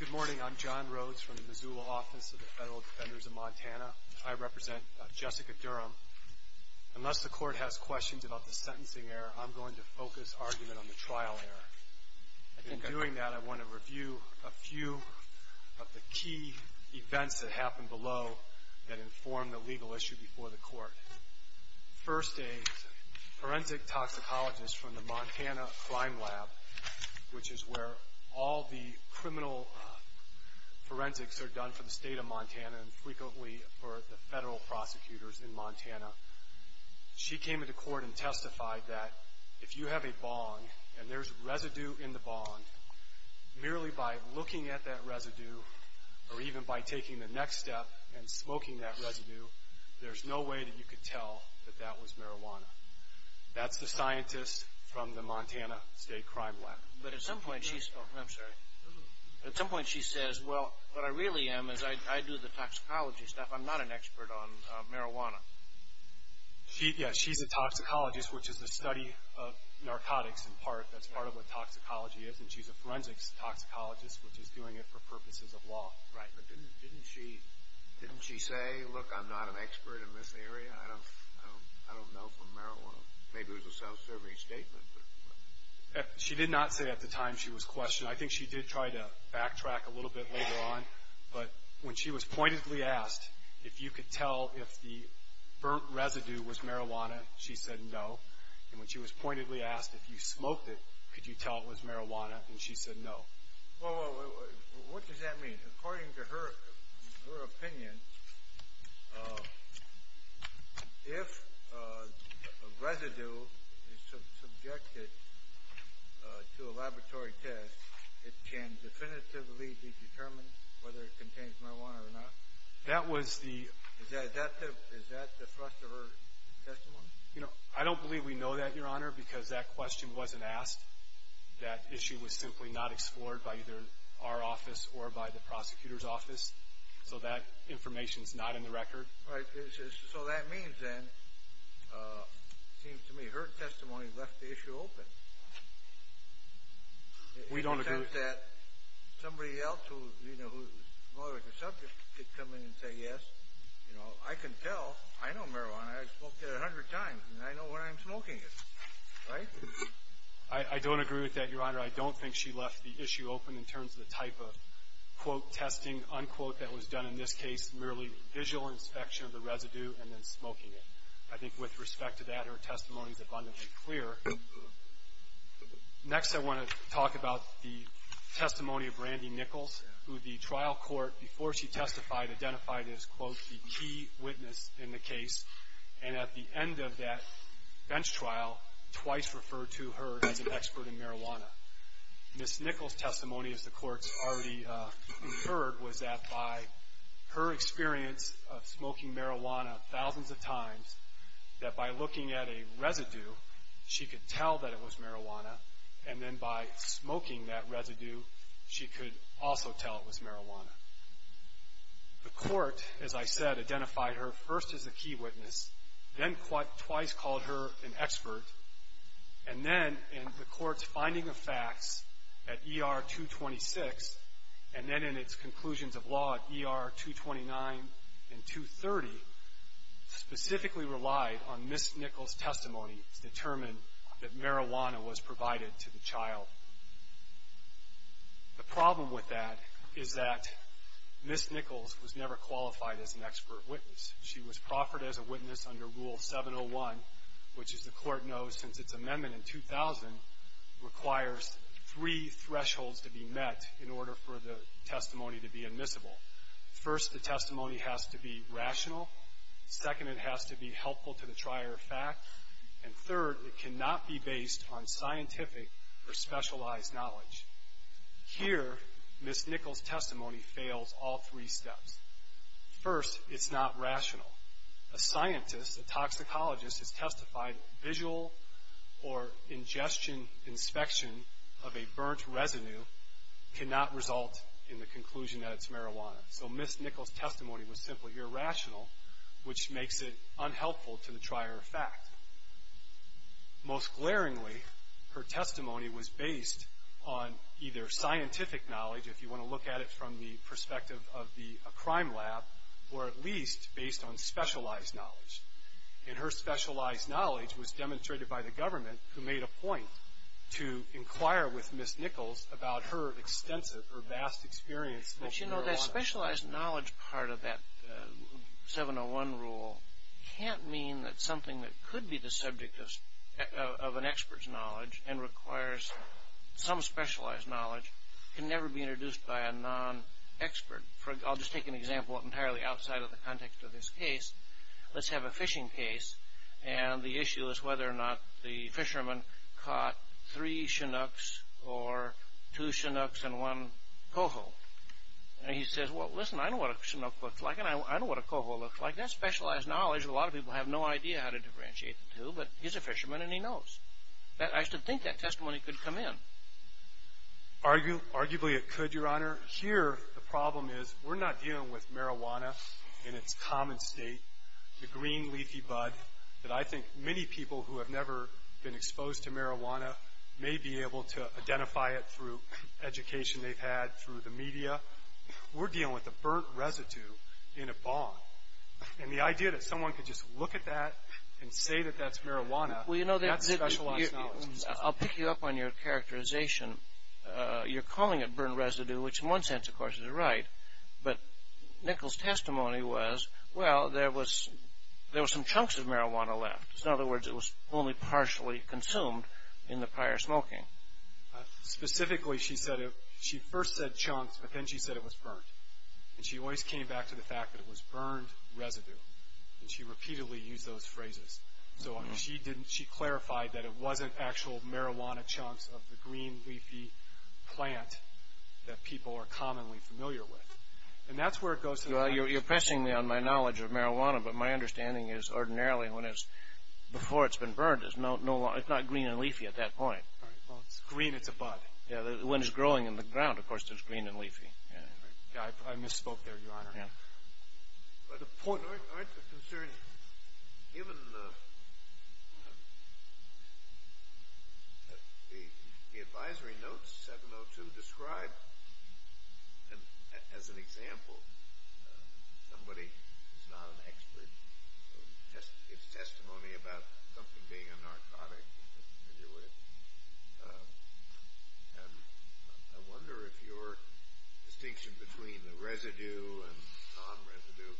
Good morning. I'm John Rhodes from the Missoula Office of the Federal Defenders of Montana. I represent Jessica Durham. Unless the court has questions about the sentencing error, I'm going to focus argument on the trial error. In doing that, I want to review a few of the key events that happened below that informed the legal issue before the court. First, a forensic toxicologist from the Montana Crime Lab, which is where all the criminal forensics are done for the state of Montana and frequently for the federal prosecutors in Montana, she came into court and testified that if you have a bong and there's residue in the bong, merely by looking at that residue or even by taking the next step and smoking that residue, there's no way that you could tell that that was marijuana. That's the scientist from the Montana State Crime Lab. But at some point she says, well, what I really am is I do the toxicology stuff. I'm not an expert on marijuana. Yeah, she's a toxicologist, which is the study of narcotics in part. That's part of what toxicology is. And she's a forensics toxicologist, which is doing it for purposes of law. Right. But didn't she say, look, I'm not an expert in this area. I don't know for marijuana. Maybe it was a self-serving statement. She did not say at the time she was questioned. I think she did try to backtrack a little bit later on. But when she was pointedly asked if you could tell if the burnt residue was marijuana, she said no. And when she was pointedly asked if you smoked it, could you tell it was marijuana, and she said no. What does that mean? According to her opinion, if a residue is subjected to a laboratory test, it can definitively be determined whether it contains marijuana or not? Is that the thrust of her testimony? You know, I don't believe we know that, Your Honor, because that question wasn't asked. That issue was simply not explored by either our office or by the prosecutor's office. So that information is not in the record. Right. So that means then, it seems to me, her testimony left the issue open. We don't agree. I don't agree with that, Your Honor. I don't think she left the issue open in terms of the type of, quote, testing, unquote, that was done in this case, merely visual inspection of the residue and then smoking it. I think with respect to that, her testimony is abundantly clear. Next, I want to talk about the question of whether or not marijuana is a substance. The testimony of Brandy Nichols, who the trial court, before she testified, identified as, quote, the key witness in the case, and at the end of that bench trial, twice referred to her as an expert in marijuana. Ms. Nichols' testimony, as the courts already inferred, was that by her experience of smoking marijuana thousands of times, that by looking at a residue, she could tell that it was marijuana, and then by smoking that residue, she could also tell it was marijuana. The court, as I said, identified her first as a key witness, then twice called her an expert, and then in the court's finding of facts at ER 226, and then in its conclusions of law at ER 229 and 230, specifically relied on Ms. Nichols' testimony to determine that marijuana was provided to the child. The problem with that is that Ms. Nichols was never qualified as an expert witness. She was proffered as a witness under Rule 701, which, as the court knows, since its amendment in 2000, requires three thresholds to be met in order for the testimony to be admissible. First, the testimony has to be rational. Second, it has to be helpful to the trier of facts. And third, it cannot be based on scientific or specialized knowledge. Here, Ms. Nichols' testimony fails all three steps. First, it's not rational. A scientist, a toxicologist, has testified that visual or ingestion inspection of a burnt residue cannot result in the conclusion that it's marijuana. So Ms. Nichols' testimony was simply irrational, which makes it unhelpful to the trier of facts. Most glaringly, her testimony was based on either scientific knowledge, if you want to look at it from the perspective of a crime lab, or at least based on specialized knowledge. And her specialized knowledge was demonstrated by the government, who made a point to inquire with Ms. Nichols about her extensive or vast experience smoking marijuana. But, you know, that specialized knowledge part of that 701 rule can't mean that something that could be the subject of an expert's knowledge and requires some specialized knowledge can never be introduced by a non-expert. I'll just take an example entirely outside of the context of this case. Let's have a fishing case, and the issue is whether or not the fisherman caught three chinooks or two chinooks and one coho. And he says, well, listen, I know what a chinook looks like, and I know what a coho looks like. That's specialized knowledge that a lot of people have no idea how to differentiate the two, but he's a fisherman and he knows. I used to think that testimony could come in. Arguably it could, Your Honor. Here the problem is we're not dealing with marijuana in its common state, the green leafy bud, that I think many people who have never been exposed to marijuana may be able to identify it through education they've had, through the media. We're dealing with a burnt residue in a bond. And the idea that someone could just look at that and say that that's marijuana, that's specialized knowledge. I'll pick you up on your characterization. You're calling it burnt residue, which in one sense, of course, is right, but Nichols' testimony was, well, there was some chunks of marijuana left. In other words, it was only partially consumed in the prior smoking. Specifically, she first said chunks, but then she said it was burnt. And she always came back to the fact that it was burned residue, and she repeatedly used those phrases. So she clarified that it wasn't actual marijuana chunks of the green leafy plant that people are commonly familiar with. And that's where it goes to the bottom. Well, you're pressing me on my knowledge of marijuana, but my understanding is ordinarily when it's before it's been burnt, it's not green and leafy at that point. Well, it's green, it's a bud. When it's growing in the ground, of course, it's green and leafy. I misspoke there, Your Honor. But aren't the concerns, given the advisory notes, 702, described as an example, somebody who's not an expert in his testimony about something being a narcotic, and I wonder if your distinction between the residue and the com residue,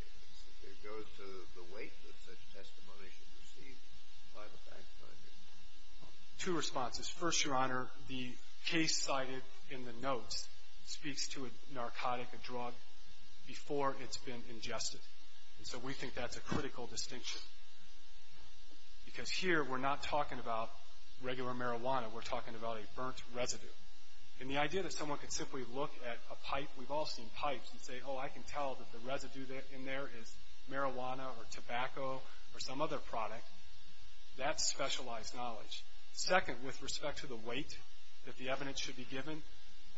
if it goes to the weight that such testimony should receive by the fact finder. Two responses. First, Your Honor, the case cited in the notes speaks to a narcotic, a drug, before it's been ingested. And so we think that's a critical distinction. Because here we're not talking about regular marijuana, we're talking about a burnt residue. And the idea that someone could simply look at a pipe, we've all seen pipes, and say, oh, I can tell that the residue in there is marijuana or tobacco or some other product, that's specialized knowledge. Second, with respect to the weight that the evidence should be given,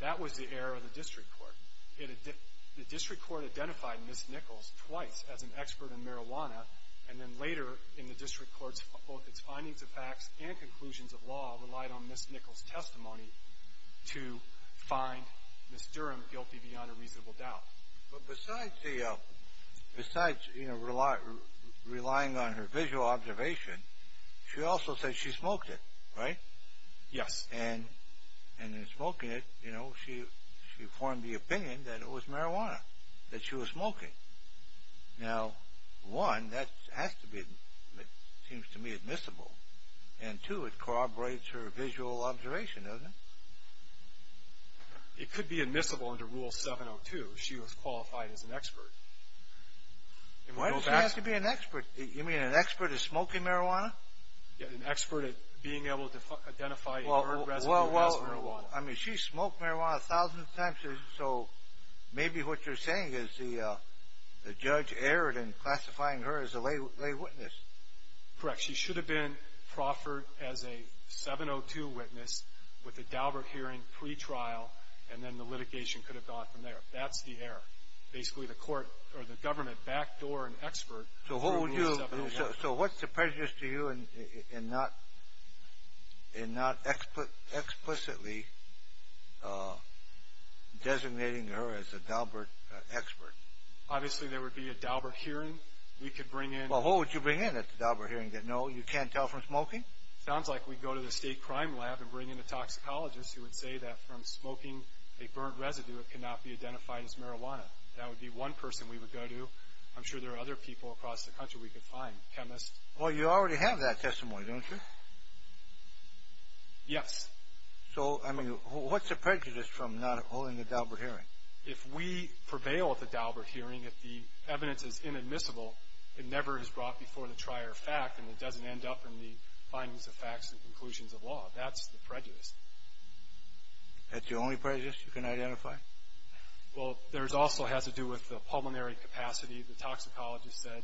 that was the error of the district court. The district court identified Ms. Nichols twice as an expert in marijuana, and then later in the district courts, both its findings of facts and conclusions of law, relied on Ms. Nichols' testimony to find Ms. Durham guilty beyond a reasonable doubt. But besides relying on her visual observation, she also said she smoked it, right? Yes. And in smoking it, you know, she formed the opinion that it was marijuana that she was smoking. Now, one, that has to be, it seems to me, admissible. And two, it corroborates her visual observation, doesn't it? It could be admissible under Rule 702 if she was qualified as an expert. Why does she have to be an expert? You mean an expert at smoking marijuana? Yeah, an expert at being able to identify her aggressive use of marijuana. Well, I mean, she smoked marijuana thousands of times, so maybe what you're saying is the judge erred in classifying her as a lay witness. Correct. She should have been proffered as a 702 witness with a Daubert hearing pretrial, and then the litigation could have gone from there. That's the error. Basically, the court, or the government, backdoored an expert. So what's the prejudice to you in not explicitly designating her as a Daubert expert? Obviously, there would be a Daubert hearing. We could bring in— Well, who would you bring in at the Daubert hearing that, no, you can't tell from smoking? Sounds like we'd go to the state crime lab and bring in a toxicologist who would say that from smoking a burnt residue, it cannot be identified as marijuana. That would be one person we would go to. I'm sure there are other people across the country we could find, chemists. Well, you already have that testimony, don't you? Yes. So, I mean, what's the prejudice from not holding a Daubert hearing? If we prevail at the Daubert hearing, if the evidence is inadmissible, it never is brought before the trier of fact, and it doesn't end up in the findings of facts and conclusions of law. That's the prejudice. That's the only prejudice you can identify? Well, there also has to do with the pulmonary capacity. The toxicologist said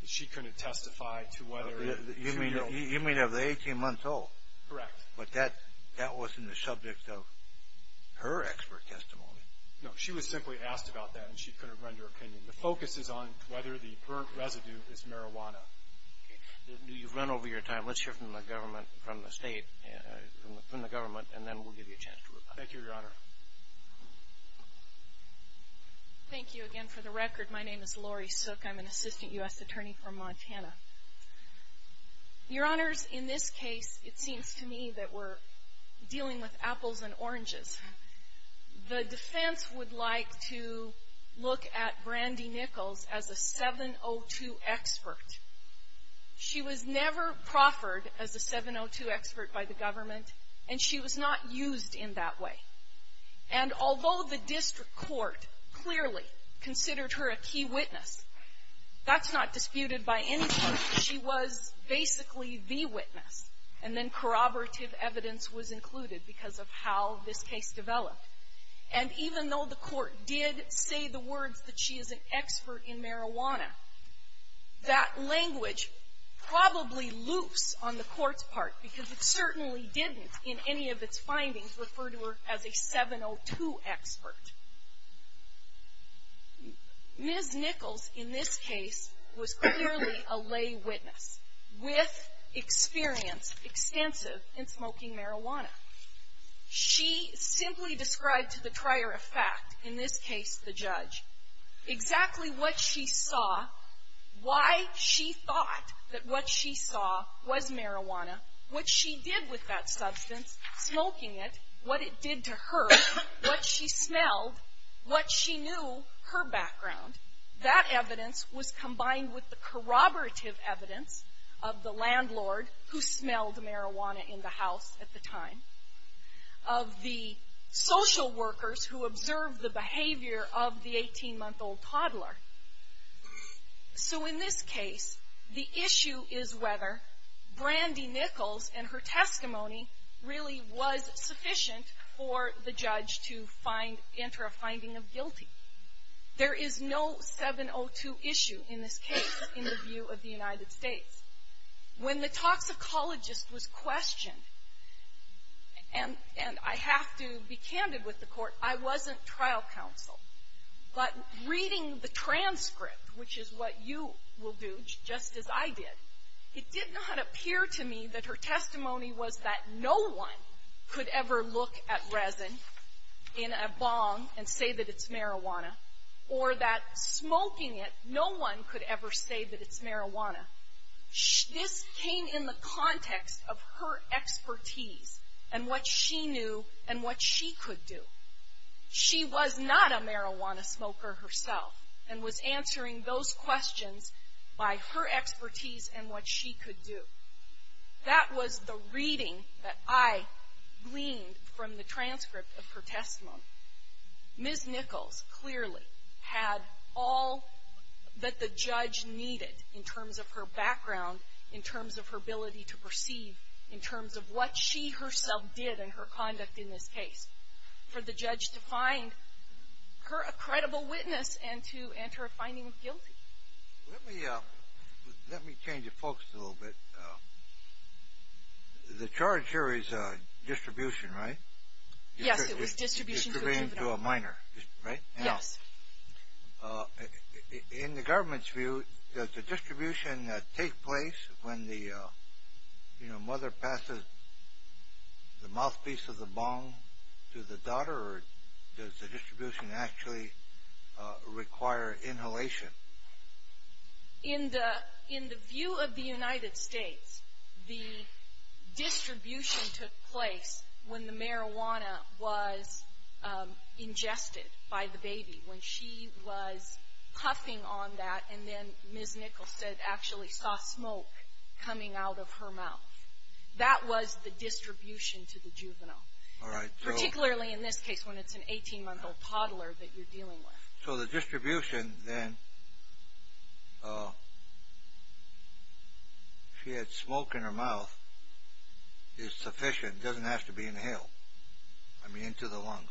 that she couldn't testify to whether it was real. You mean of the 18-month-old? Correct. But that wasn't the subject of her expert testimony. No. She was simply asked about that, and she couldn't render an opinion. The focus is on whether the burnt residue is marijuana. Okay. You've run over your time. Let's hear from the government, from the state, from the government, and then we'll give you a chance to reply. Thank you, Your Honor. Thank you again for the record. My name is Lori Sook. I'm an assistant U.S. attorney from Montana. Your Honors, in this case, it seems to me that we're dealing with apples and oranges. The defense would like to look at Brandy Nichols as a 702 expert. She was never proffered as a 702 expert by the government, and she was not used in that way. And although the district court clearly considered her a key witness, that's not disputed by anyone. She was basically the witness, and then corroborative evidence was included because of how this case developed. And even though the court did say the words that she is an expert in marijuana, that language probably loops on the court's part, because it certainly didn't in any of its findings refer to her as a 702 expert. Ms. Nichols, in this case, was clearly a lay witness with experience extensive in smoking marijuana. She simply described to the trier of fact, in this case the judge, exactly what she saw, why she thought that what she saw was marijuana, what she did with that substance, smoking it, what it did to her, what she smelled, what she knew, her background. That evidence was combined with the corroborative evidence of the landlord who smelled marijuana in the house at the time, of the social workers who observed the behavior of the 18-month-old toddler. So in this case, the issue is whether Brandy Nichols and her testimony really was sufficient for the judge to find, enter a finding of guilty. There is no 702 issue in this case in the view of the United States. When the toxicologist was questioned, and I have to be candid with the court, I wasn't trial counsel. But reading the transcript, which is what you will do, just as I did, it did not appear to me that her testimony was that no one could ever look at resin in a bong and say that it's marijuana, or that smoking it, this came in the context of her expertise and what she knew and what she could do. She was not a marijuana smoker herself and was answering those questions by her expertise and what she could do. That was the reading that I gleaned from the transcript of her testimony. Ms. Nichols clearly had all that the judge needed in terms of her background, in terms of her ability to perceive, in terms of what she herself did and her conduct in this case, for the judge to find her a credible witness and to enter a finding of guilty. Let me change the focus a little bit. The charge here is distribution, right? Yes, it was distribution to a juvenile. Distributing to a minor, right? Yes. In the government's view, does the distribution take place when the mother passes the mouthpiece of the bong to the daughter, or does the distribution actually require inhalation? In the view of the United States, the distribution took place when the marijuana was ingested by the baby, when she was puffing on that and then Ms. Nichols actually saw smoke coming out of her mouth. That was the distribution to the juvenile, particularly in this case when it's an 18-month-old toddler that you're dealing with. So the distribution then, if she had smoke in her mouth, is sufficient. It doesn't have to be inhaled. I mean, into the lungs.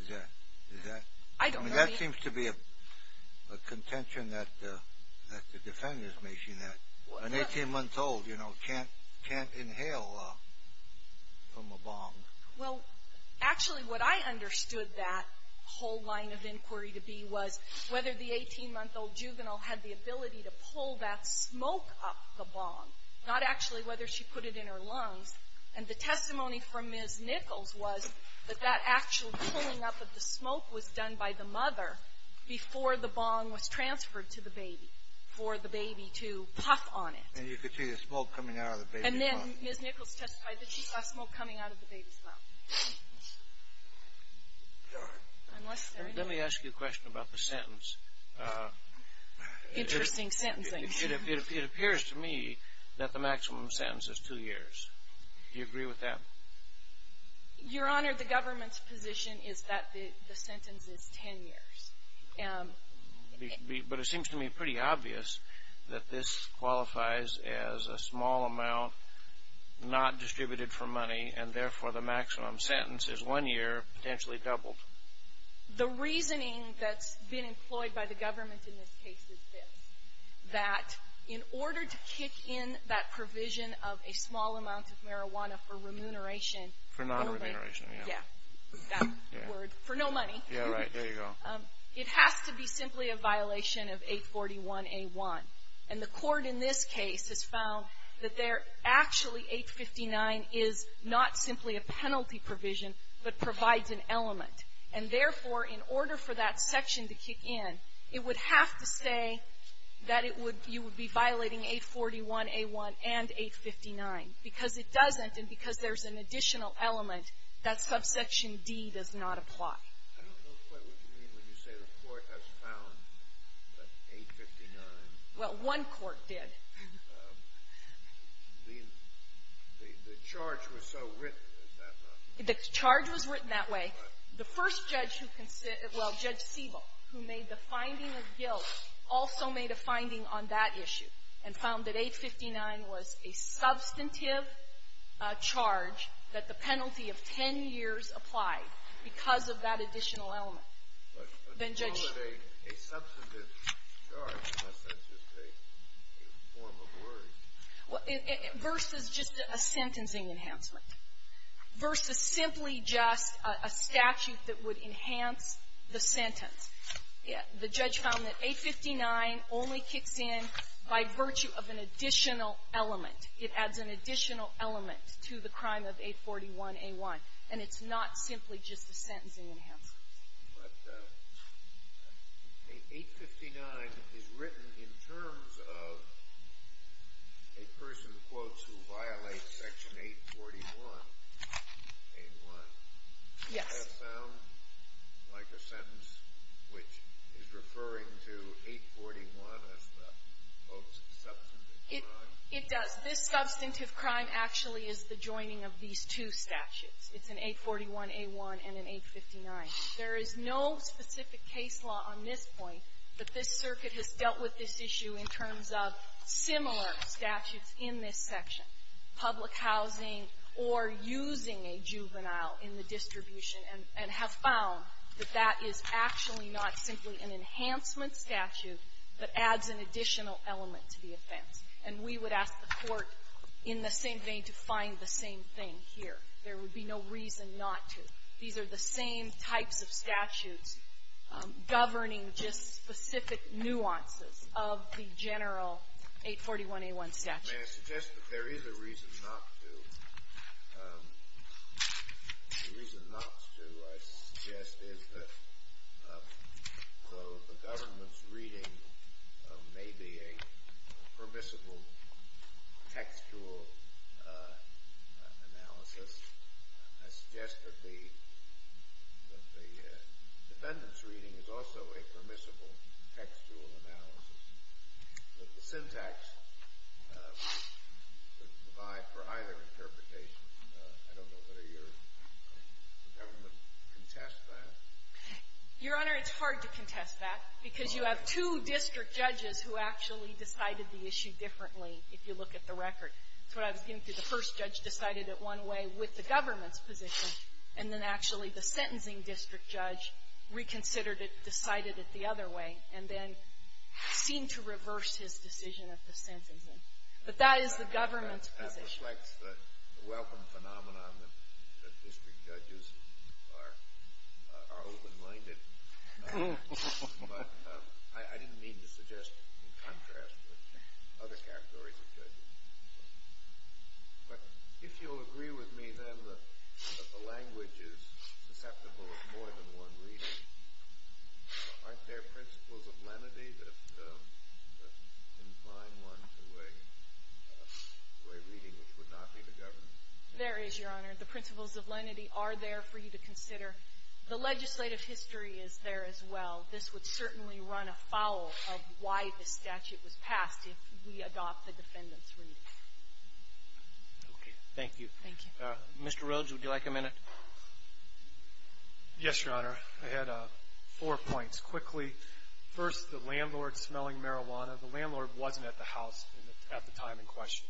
Is that... I don't know. That seems to be a contention that the defendant is making, Well, actually, what I understood that whole line of inquiry to be was whether the 18-month-old juvenile had the ability to pull that smoke up the bong, not actually whether she put it in her lungs. And the testimony from Ms. Nichols was that that actual pulling up of the smoke was done by the mother before the bong was transferred to the baby, for the baby to puff on it. And you could see the smoke coming out of the baby's mouth. And then Ms. Nichols testified that she saw smoke coming out of the baby's mouth. Let me ask you a question about the sentence. Interesting sentencing. It appears to me that the maximum sentence is two years. Do you agree with that? Your Honor, the government's position is that the sentence is ten years. But it seems to me pretty obvious that this qualifies as a small amount not distributed for money, and therefore the maximum sentence is one year, potentially doubled. The reasoning that's been employed by the government in this case is this, that in order to kick in that provision of a small amount of marijuana for remuneration... For non-remuneration, yeah. Yeah. That word. For no money. Yeah, right. There you go. It has to be simply a violation of 841A1. And the Court in this case has found that there actually 859 is not simply a penalty provision, but provides an element. And therefore, in order for that section to kick in, it would have to say that you would be violating 841A1 and 859, because it doesn't, and because there's an additional element that subsection D does not apply. I don't know quite what you mean when you say the Court has found that 859... Well, one court did. The charge was so written that... The charge was written that way. The first judge who considered, well, Judge Siebel, who made the finding of guilt also made a finding on that issue and found that 859 was a substantive charge that the penalty of ten years applied. Because of that additional element. But to call it a substantive charge, that's just a form of word. Versus just a sentencing enhancement. Versus simply just a statute that would enhance the sentence. The judge found that 859 only kicks in by virtue of an additional element. It adds an additional element to the crime of 841A1. And it's not simply just a sentencing enhancement. But 859 is written in terms of a person, in quotes, who violates Section 841A1. Yes. Does that sound like a sentence which is referring to 841 as the most substantive crime? It does. This substantive crime actually is the joining of these two statutes. It's an 841A1 and an 859. There is no specific case law on this point that this circuit has dealt with this issue in terms of similar statutes in this section, public housing or using a juvenile in the distribution, and have found that that is actually not simply an enhancement statute, but adds an additional element to the offense. And we would ask the Court in the same vein to find the same thing here. There would be no reason not to. These are the same types of statutes governing just specific nuances of the general 841A1 statute. May I suggest that there is a reason not to? The reason not to, I suggest, is that though the government's reading may be a permissible textual analysis, I suggest that the defendant's reading is also a permissible textual analysis. The syntax would provide for either interpretation. I don't know whether your government would contest that. Your Honor, it's hard to contest that because you have two district judges who actually decided the issue differently, if you look at the record. That's what I was getting to. The first judge decided it one way with the government's position, and then actually the sentencing district judge reconsidered it, decided it the other way, and then seemed to reverse his decision of the sentencing. But that is the government's position. That reflects the welcome phenomenon that district judges are open-minded. But I didn't mean to suggest in contrast with other categories of judges. But if you'll agree with me, then, that the language is susceptible of more than one reading. Aren't there principles of lenity that incline one to a reading which would not be the government's? There is, Your Honor. The principles of lenity are there for you to consider. The legislative history is there as well. This would certainly run afoul of why the statute was passed if we adopt the defendant's reading. Okay. Thank you. Thank you. Mr. Rhodes, would you like a minute? Yes, Your Honor. I had four points. Quickly, first, the landlord smelling marijuana. The landlord wasn't at the house at the time in question.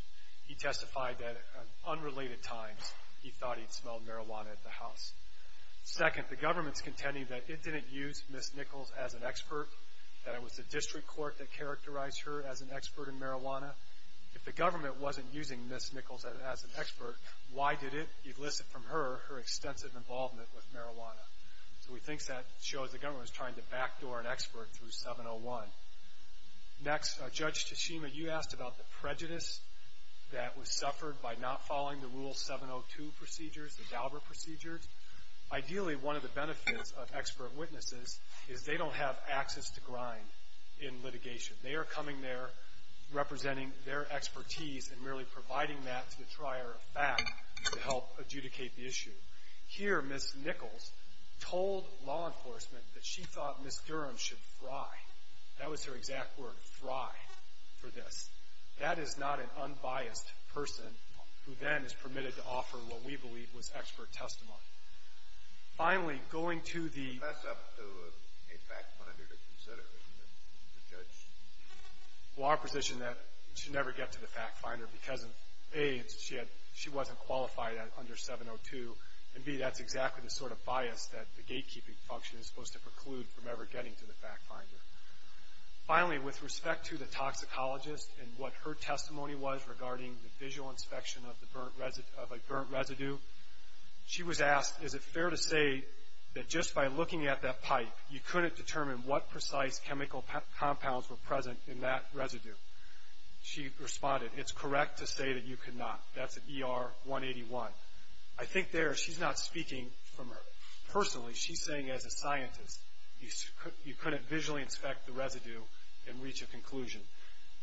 He testified that at unrelated times, he thought he'd smelled marijuana at the house. Second, the government's contending that it didn't use Ms. Nichols as an expert, that it was the district court that characterized her as an expert in marijuana. If the government wasn't using Ms. Nichols as an expert, why did it elicit from her her extensive involvement with marijuana? So we think that shows the government was trying to backdoor an expert through 701. Next, Judge Tashima, you asked about the prejudice that was suffered by not following the Rule 702 procedures, the Dauber procedures. Ideally, one of the benefits of expert witnesses is they don't have access to grind in litigation. They are coming there representing their expertise and merely providing that to the trier of fact to help adjudicate the issue. Here, Ms. Nichols told law enforcement that she thought Ms. Durham should fry. That was her exact word, fry, for this. That is not an unbiased person who then is permitted to offer what we believe was expert testimony. Finally, going to the... That's up to a fact finder to consider, isn't it, the judge? Well, our position is that she should never get to the fact finder because, A, she wasn't qualified under 702, and, B, that's exactly the sort of bias that the gatekeeping function is supposed to preclude from ever getting to the fact finder. Finally, with respect to the toxicologist and what her testimony was regarding the visual inspection of a burnt residue, she was asked, is it fair to say that just by looking at that pipe, you couldn't determine what precise chemical compounds were present in that residue? She responded, it's correct to say that you could not. That's at ER 181. I think there she's not speaking from her... Personally, she's saying as a scientist, you couldn't visually inspect the residue and reach a conclusion.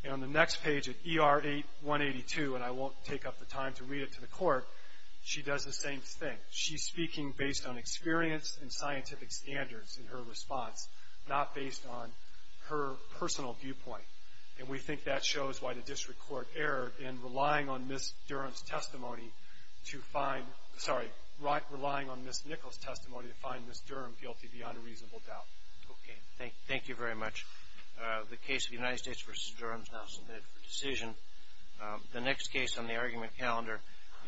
And on the next page at ER 182, and I won't take up the time to read it to the court, she does the same thing. She's speaking based on experience and scientific standards in her response, not based on her personal viewpoint. And we think that shows why the district court erred in relying on Ms. Durham's testimony to find... sorry, relying on Ms. Nichols' testimony to find Ms. Durham guilty beyond a reasonable doubt. Okay. Thank you very much. The case of United States v. Durham is now submitted for decision. The next case on the argument calendar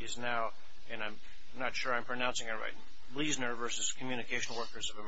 is now, and I'm not sure I'm pronouncing it right, Bleasner v. Communicational Workers of America.